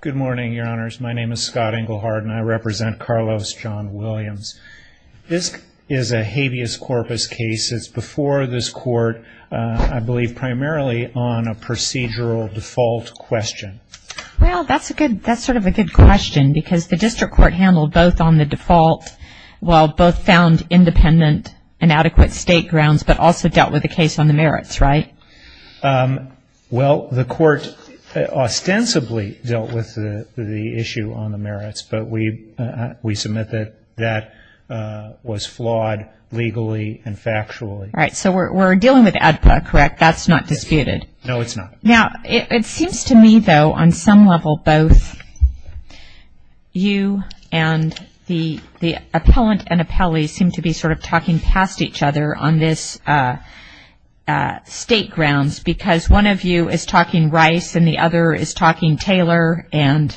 Good morning, your honors. My name is Scott Englehardt and I represent Carlos John Williams. This is a habeas corpus case. It's before this court, I believe primarily on a procedural default question. Well, that's a good, that's sort of a good question because the district court handled both on the default, while both found independent and adequate state grounds, but also dealt with the case on the merits, right? Well, the court ostensibly dealt with the issue on the merits, but we submit that that was flawed legally and factually. All right, so we're dealing with ADPA, correct? That's not disputed? No, it's not. Now, it seems to me, though, on some level, both you and the appellant and appellee seem to be sort of talking past each other on this state grounds because one of you is talking Rice and the other is talking Taylor and...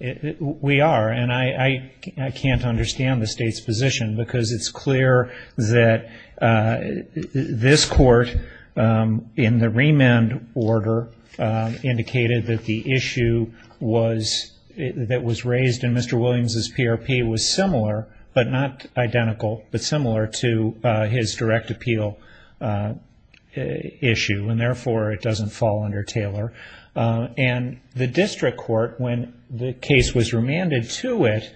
The remand order indicated that the issue was, that was raised in Mr. Williams' PRP was similar, but not identical, but similar to his direct appeal issue, and therefore it doesn't fall under Taylor. And the district court, when the case was remanded to it,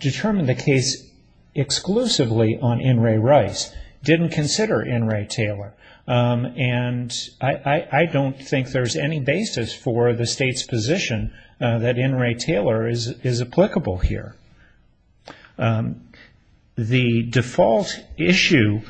determined the case exclusively on N. Ray Rice, didn't consider N. Ray Taylor. And I don't think there's any basis for the state's position that N. Ray Taylor is applicable here. The default issue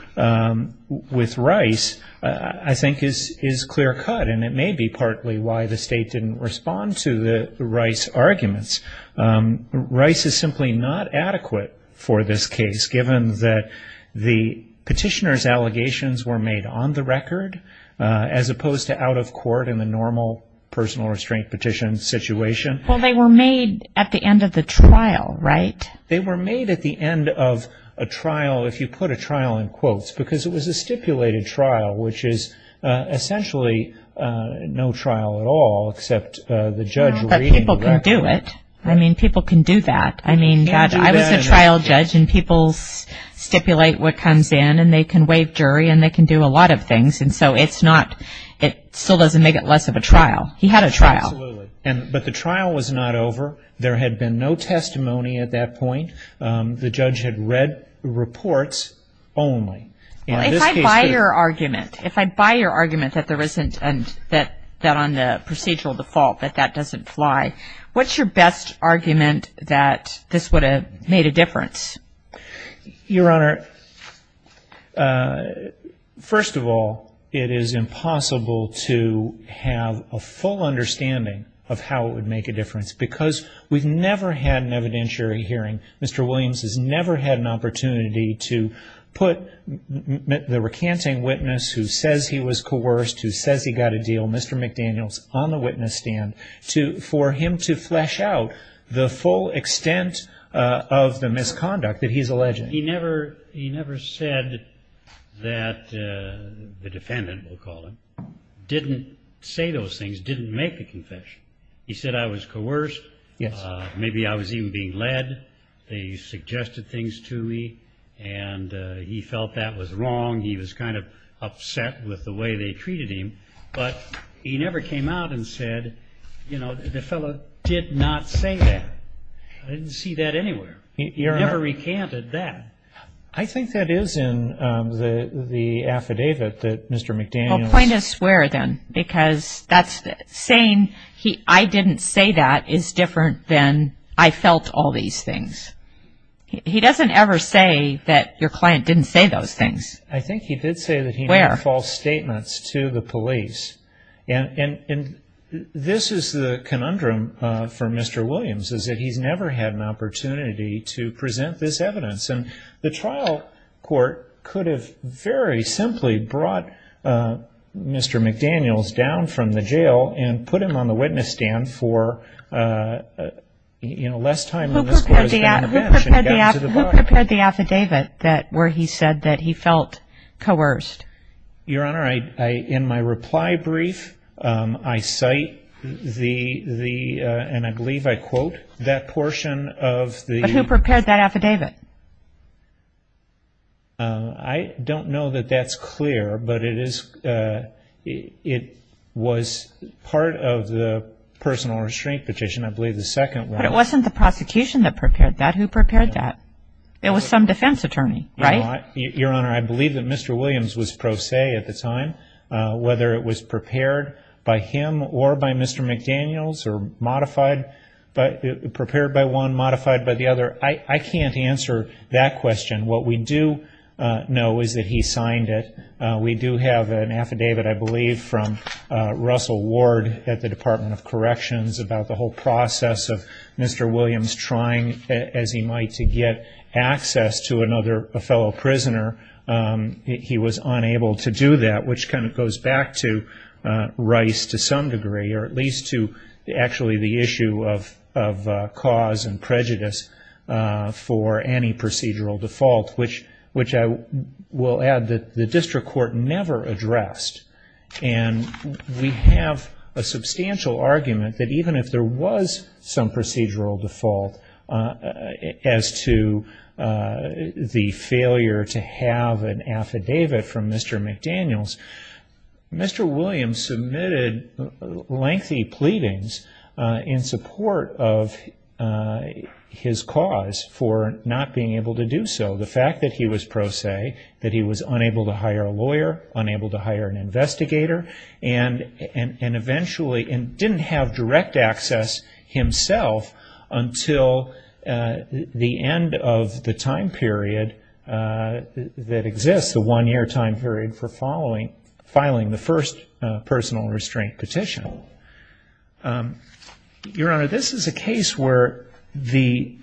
with Rice, I think, is clear cut, and it may be partly why the state didn't respond to the Rice arguments. Rice is simply not adequate for this case, given that the petitioner's allegations were made on the record, as opposed to out of court in the normal personal restraint petition situation. Well, they were made at the end of the trial, right? They were made at the end of a trial, if you put a trial in quotes, because it was a stipulated trial, which is essentially no trial at all, except the judge reading the record. But people can do it. I mean, people can do that. I mean, I was a trial judge, and people stipulate what comes in, and they can waive jury, and they can do a lot of things, and so it's not, it still doesn't make it less of a trial. He had a trial. Absolutely. But the trial was not over. There had been no testimony at that point. The judge had read reports only. Well, if I buy your argument, if I buy your argument that there isn't, that on the procedural default that that doesn't fly, what's your best argument that this would have made a difference? Your Honor, first of all, it is impossible to have a full understanding of how it would make a difference, because we've never had an evidentiary hearing. Mr. Williams has never had an opportunity to put the recanting witness who says he was coerced, who says he got a deal, Mr. McDaniels, on the witness stand, for him to flesh out the full extent of the misconduct that he's alleging. He never said that the defendant, we'll call him, didn't say those things, didn't make the confession. He said I was coerced. Yes. Maybe I was even being led. They suggested things to me, and he felt that was wrong. He was kind of upset with the way they treated him. But he never came out and said, you know, the fellow did not say that. I didn't see that anywhere. He never recanted that. I think that is in the affidavit that Mr. McDaniels ---- Point us where, then, because saying I didn't say that is different than I felt all these things. He doesn't ever say that your client didn't say those things. I think he did say that he made false statements to the police. And this is the conundrum for Mr. Williams, is that he's never had an opportunity to present this evidence. And the trial court could have very simply brought Mr. McDaniels down from the jail and put him on the witness stand for, you know, less time on this closed-down event. Who prepared the affidavit where he said that he felt coerced? Your Honor, in my reply brief, I cite the, and I believe I quote, that portion of the ---- I don't know that that's clear, but it was part of the personal restraint petition, I believe the second one. But it wasn't the prosecution that prepared that. Who prepared that? It was some defense attorney, right? Your Honor, I believe that Mr. Williams was pro se at the time. Whether it was prepared by him or by Mr. McDaniels or modified, prepared by one, modified by the other, I can't answer that question. What we do know is that he signed it. We do have an affidavit, I believe, from Russell Ward at the Department of Corrections about the whole process of Mr. Williams trying as he might to get access to another fellow prisoner. He was unable to do that, which kind of goes back to Rice to some degree, or at least to actually the issue of cause and prejudice for any procedural default, which I will add that the district court never addressed. And we have a substantial argument that even if there was some procedural default as to the failure to have an affidavit from Mr. McDaniels, Mr. Williams submitted lengthy pleadings in support of his cause for not being able to do so. The fact that he was pro se, that he was unable to hire a lawyer, unable to hire an investigator, and eventually didn't have direct access himself until the end of the time period that exists, the one-year time period for filing the first personal restraint petition. Your Honor, this is a case where the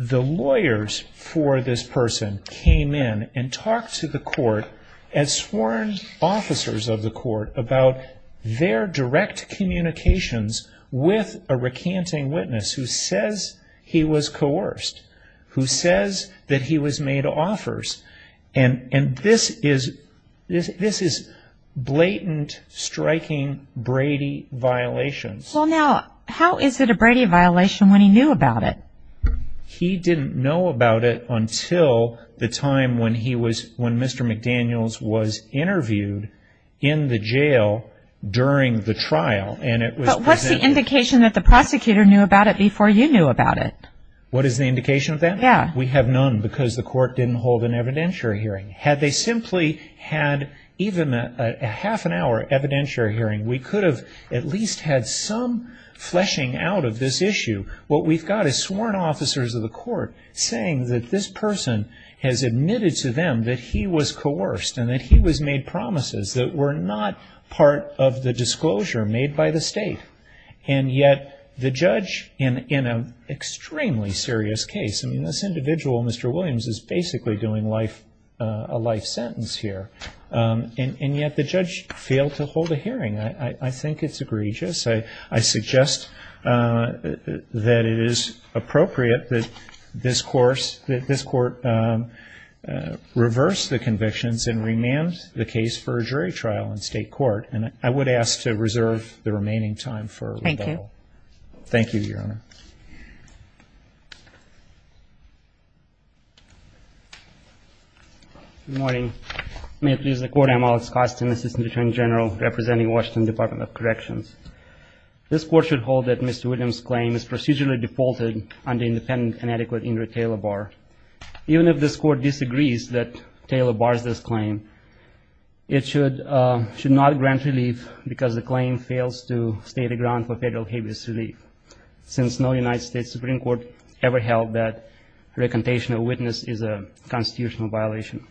lawyers for this person came in and talked to the court as sworn officers of the court about their direct communications with a recanting witness who says he was coerced, who says that he was made offers. And this is blatant, striking Brady violations. Well now, how is it a Brady violation when he knew about it? He didn't know about it until the time when Mr. McDaniels was interviewed in the jail during the trial. But what's the indication that the prosecutor knew about it before you knew about it? What is the indication of that? Yeah. We have none because the court didn't hold an evidentiary hearing. Had they simply had even a half an hour evidentiary hearing, we could have at least had some fleshing out of this issue. What we've got is sworn officers of the court saying that this person has admitted to them that he was coerced and that he was made promises that were not part of the disclosure made by the state. And yet the judge in an extremely serious case, I mean this individual, Mr. Williams, is basically doing a life sentence here. And yet the judge failed to hold a hearing. I think it's egregious. I suggest that it is appropriate that this court reverse the convictions and remand the case for a jury trial in state court. And I would ask to reserve the remaining time for rebuttal. Thank you. Thank you, Your Honor. Good morning. May it please the Court, I'm Alex Kostin, Assistant Attorney General, representing Washington Department of Corrections. This court should hold that Mr. Williams' claim is procedurally defaulted under independent and adequate Ingrid Taylor Barr. Even if this court disagrees that Taylor Barr's this claim, it should not grant relief because the claim fails to state a ground for federal habeas relief, since no United States Supreme Court ever held that recantation of witness is a constitutional violation.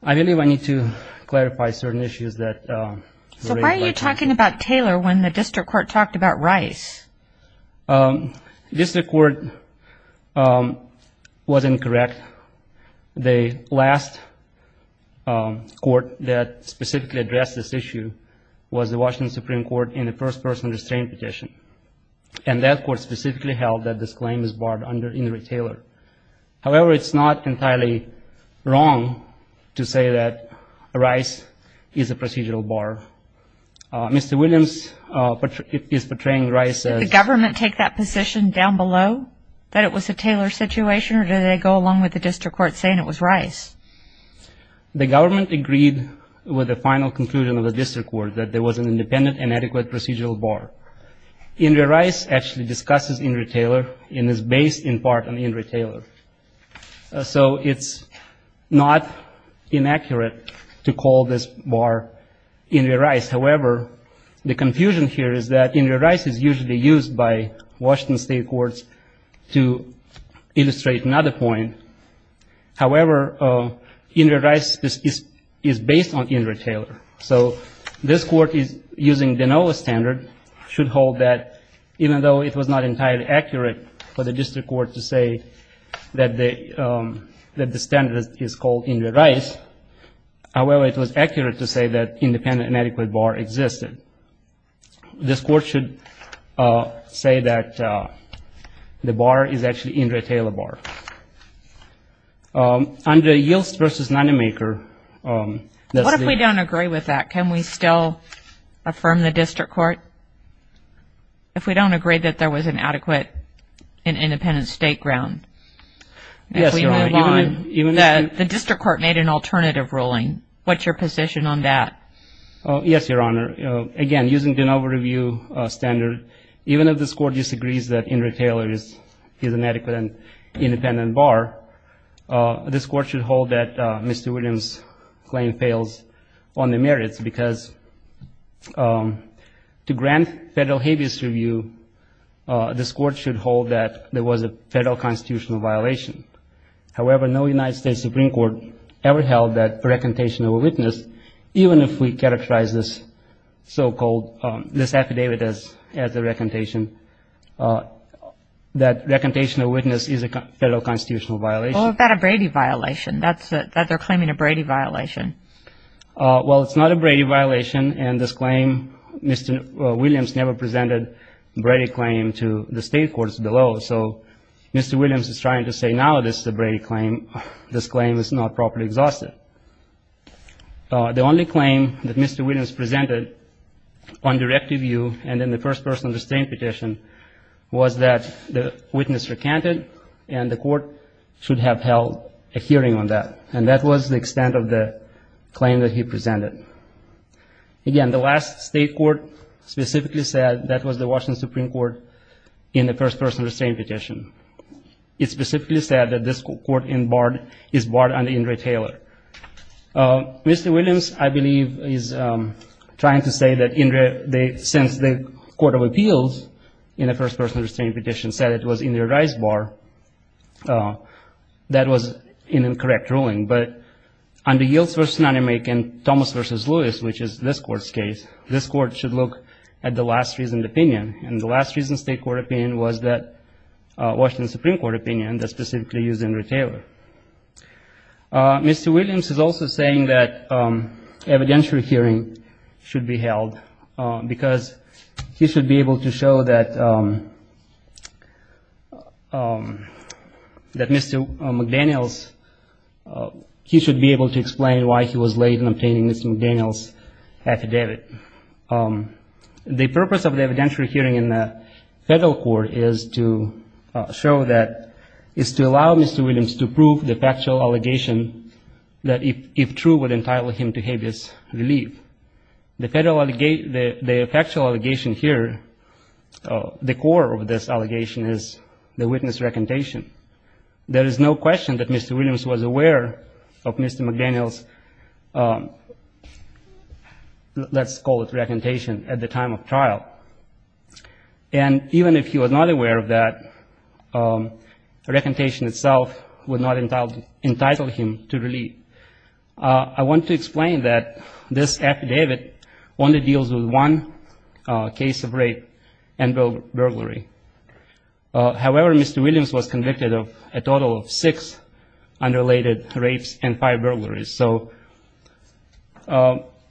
I believe I need to clarify certain issues that were raised by the court. So why are you talking about Taylor when the district court talked about Rice? The district court was incorrect. The last court that specifically addressed this issue was the Washington Supreme Court in the First Person Restraint Petition, and that court specifically held that this claim is barred under Ingrid Taylor. However, it's not entirely wrong to say that Rice is a procedural bar. Mr. Williams is portraying Rice as Did the government take that position down below, that it was a Taylor situation, or did they go along with the district court saying it was Rice? The government agreed with the final conclusion of the district court, that there was an independent and adequate procedural bar. Ingrid Rice actually discusses Ingrid Taylor and is based in part on Ingrid Taylor. So it's not inaccurate to call this bar Ingrid Rice. However, the confusion here is that Ingrid Rice is usually used by Washington state courts to illustrate another point. However, Ingrid Rice is based on Ingrid Taylor. So this court is using the NOAA standard, should hold that even though it was not entirely accurate for the district court to say that the standard is called Ingrid Rice, however, it was accurate to say that independent and adequate bar existed. This court should say that the bar is actually Ingrid Taylor bar. Under Yielst v. Nanomaker, What if we don't agree with that? Can we still affirm the district court? If we don't agree that there was an adequate and independent state ground, if we move on, the district court made an alternative ruling. What's your position on that? Yes, Your Honor. Again, using the NOAA review standard, even if this court disagrees that Ingrid Taylor is an adequate and independent bar, this court should hold that Mr. Williams' claim fails on the merits, because to grant federal habeas review, this court should hold that there was a federal constitutional violation. However, no United States Supreme Court ever held that a recantation of a witness, even if we characterize this so-called, this affidavit as a recantation, that recantation of a witness is a federal constitutional violation. What about a Brady violation, that they're claiming a Brady violation? Well, it's not a Brady violation, and this claim, Mr. Williams never presented a Brady claim to the state courts below. So Mr. Williams is trying to say now this is a Brady claim. This claim is not properly exhausted. The only claim that Mr. Williams presented on directive view and in the first-person restraint petition was that the witness recanted and the court should have held a hearing on that, and that was the extent of the claim that he presented. Again, the last state court specifically said that was the Washington Supreme Court in the first-person restraint petition. It specifically said that this court is barred under Ingrid Taylor. Mr. Williams, I believe, is trying to say that since the Court of Appeals in the first-person restraint petition said it was Ingrid Ricebar, that was an incorrect ruling. But under Yields v. Nanemake and Thomas v. Lewis, which is this Court's case, this Court should look at the last-reasoned opinion, and the last-reasoned state court opinion was that Washington Supreme Court opinion that specifically used Ingrid Taylor. Mr. Williams is also saying that evidentiary hearing should be held because he should be able to show that Mr. McDaniels, he should be able to explain why he was late in obtaining Mr. McDaniels' affidavit. The purpose of the evidentiary hearing in the federal court is to show that, is to allow Mr. Williams to prove the factual allegation that if true would entitle him to habeas relief. The factual allegation here, the core of this allegation is the witness recantation. There is no question that Mr. Williams was aware of Mr. McDaniels' let's call it recantation at the time of trial. And even if he was not aware of that, recantation itself would not entitle him to relief. I want to explain that this affidavit only deals with one case of rape and burglary. However, Mr. Williams was convicted of a total of six unrelated rapes and five burglaries. So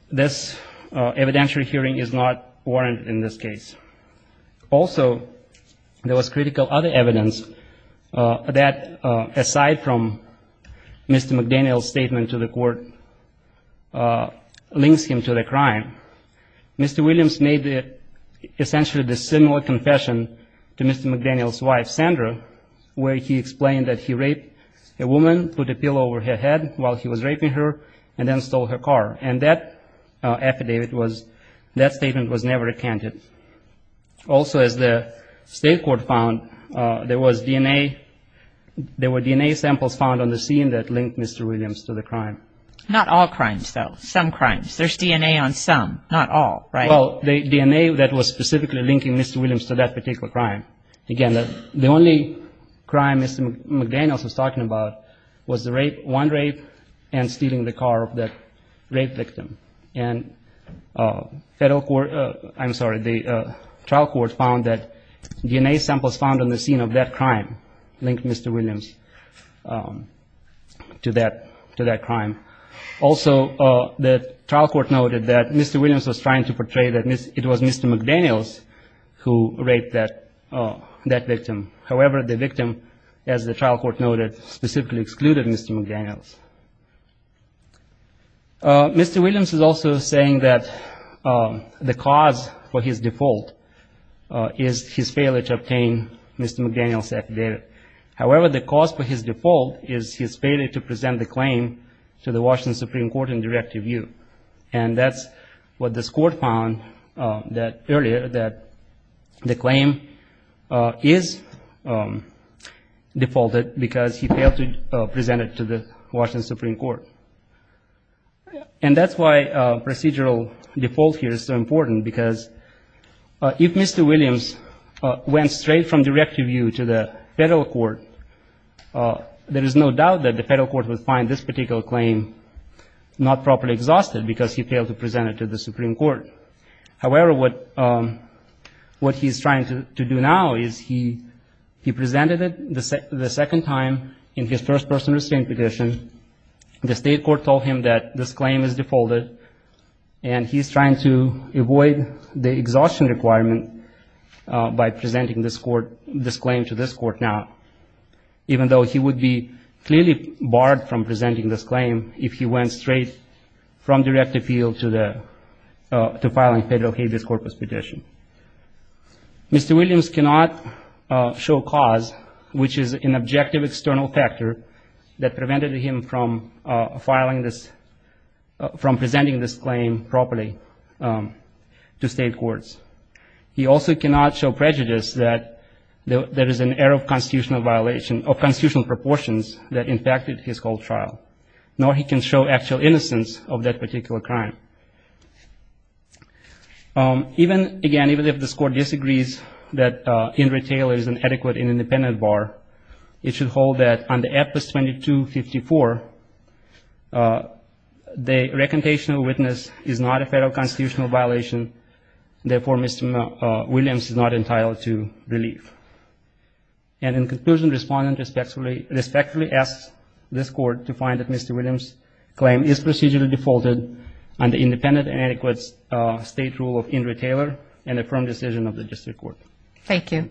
this evidentiary hearing is not warranted in this case. Also, there was critical other evidence that aside from Mr. McDaniels' statement to the court links him to the crime, Mr. Williams made essentially the similar confession to Mr. McDaniels' wife, Sandra, where he explained that he raped a woman, put a pill over her head while he was raping her, and then stole her car. And that affidavit was, that statement was never recanted. Also, as the state court found, there was DNA, there were DNA samples found on the scene that linked Mr. Williams to the crime. Not all crimes, though, some crimes. There's DNA on some, not all, right? Well, the DNA that was specifically linking Mr. Williams to that particular crime. Again, the only crime Mr. McDaniels was talking about was the rape, one rape, and stealing the car of that rape victim. And federal court, I'm sorry, the trial court found that DNA samples found on the scene of that crime linked Mr. Williams to that crime. Also, the trial court noted that Mr. Williams was trying to portray that it was Mr. McDaniels who raped that victim. However, the victim, as the trial court noted, specifically excluded Mr. McDaniels. Mr. Williams is also saying that the cause for his default is his failure to obtain Mr. McDaniels' affidavit. However, the cause for his default is his failure to present the claim to the Washington Supreme Court in direct review. And that's what this court found earlier, that the claim is defaulted because he failed to present it to the Washington Supreme Court. And that's why procedural default here is so important, because if Mr. Williams went straight from direct review to the federal court, there is no doubt that the federal court would find this particular claim not properly exhausted because he failed to present it to the Supreme Court. However, what he's trying to do now is he presented it the second time in his first-person restraint petition. The state court told him that this claim is defaulted, and he's trying to avoid the exhaustion requirement by presenting this claim to this court now, even though he would be clearly barred from presenting this claim if he went straight from direct appeal to filing federal habeas corpus petition. Mr. Williams cannot show cause, which is an objective external factor that prevented him from presenting this claim properly to state courts. He also cannot show prejudice that there is an error of constitutional violation or constitutional proportions that impacted his whole trial. Nor he can show actual innocence of that particular crime. Even, again, even if this court disagrees that Ingrid Taylor is an adequate and independent bar, it should hold that under APOS 2254, the recantation of witness is not a federal constitutional violation. Therefore, Mr. Williams is not entitled to relief. And in conclusion, respondent respectfully asks this court to find that Mr. Williams' claim is procedurally defaulted under independent and adequate state rule of Ingrid Taylor and the firm decision of the district court. Thank you.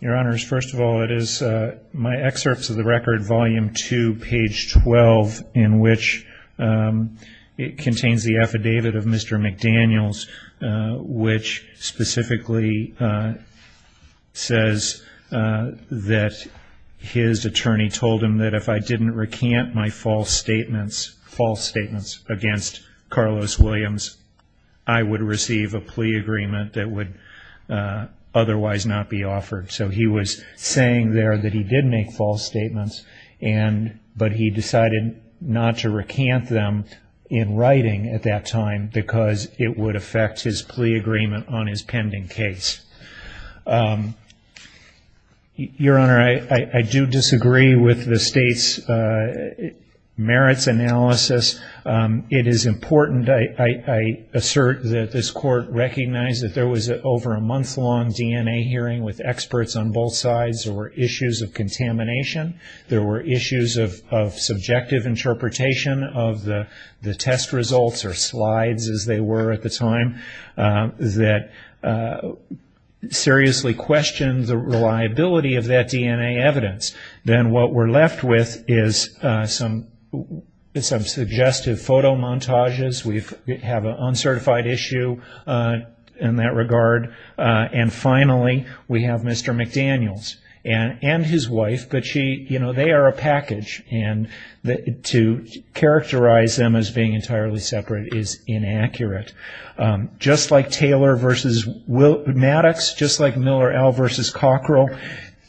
Your Honors, first of all, it is my excerpts of the record, volume two, page 12, in which it contains the affidavit of Mr. McDaniels, which specifically says that his attorney told him that if I didn't recant my false statements against Carlos Williams, I would receive a plea agreement that would otherwise not be offered. So he was saying there that he did make false statements, but he decided not to recant them in writing at that time because it would affect his plea agreement on his pending case. Your Honor, I do disagree with the state's merits analysis. It is important, I assert, that this court recognize that there was over a month-long DNA hearing with experts on both sides. There were issues of contamination. There were issues of subjective interpretation of the test results or slides, as they were at the time, that seriously questioned the reliability of that DNA evidence. Then what we're left with is some suggestive photo montages. We have an uncertified issue in that regard. And finally, we have Mr. McDaniels and his wife, but they are a package, and to characterize them as being entirely separate is inaccurate. Just like Taylor v. Maddox, just like Miller L. v. Cockrell,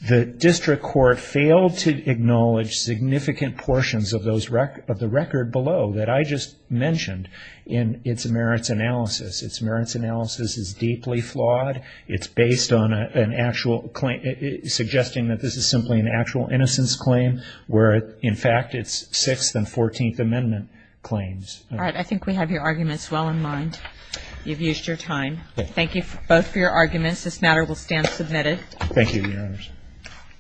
the district court failed to acknowledge significant portions of the record below that I just mentioned in its merits analysis. Its merits analysis is deeply flawed. It's based on an actual claim, suggesting that this is simply an actual innocence claim, where in fact it's Sixth and Fourteenth Amendment claims. All right. I think we have your arguments well in mind. You've used your time. Thank you both for your arguments. This matter will stand submitted. Thank you, Your Honors.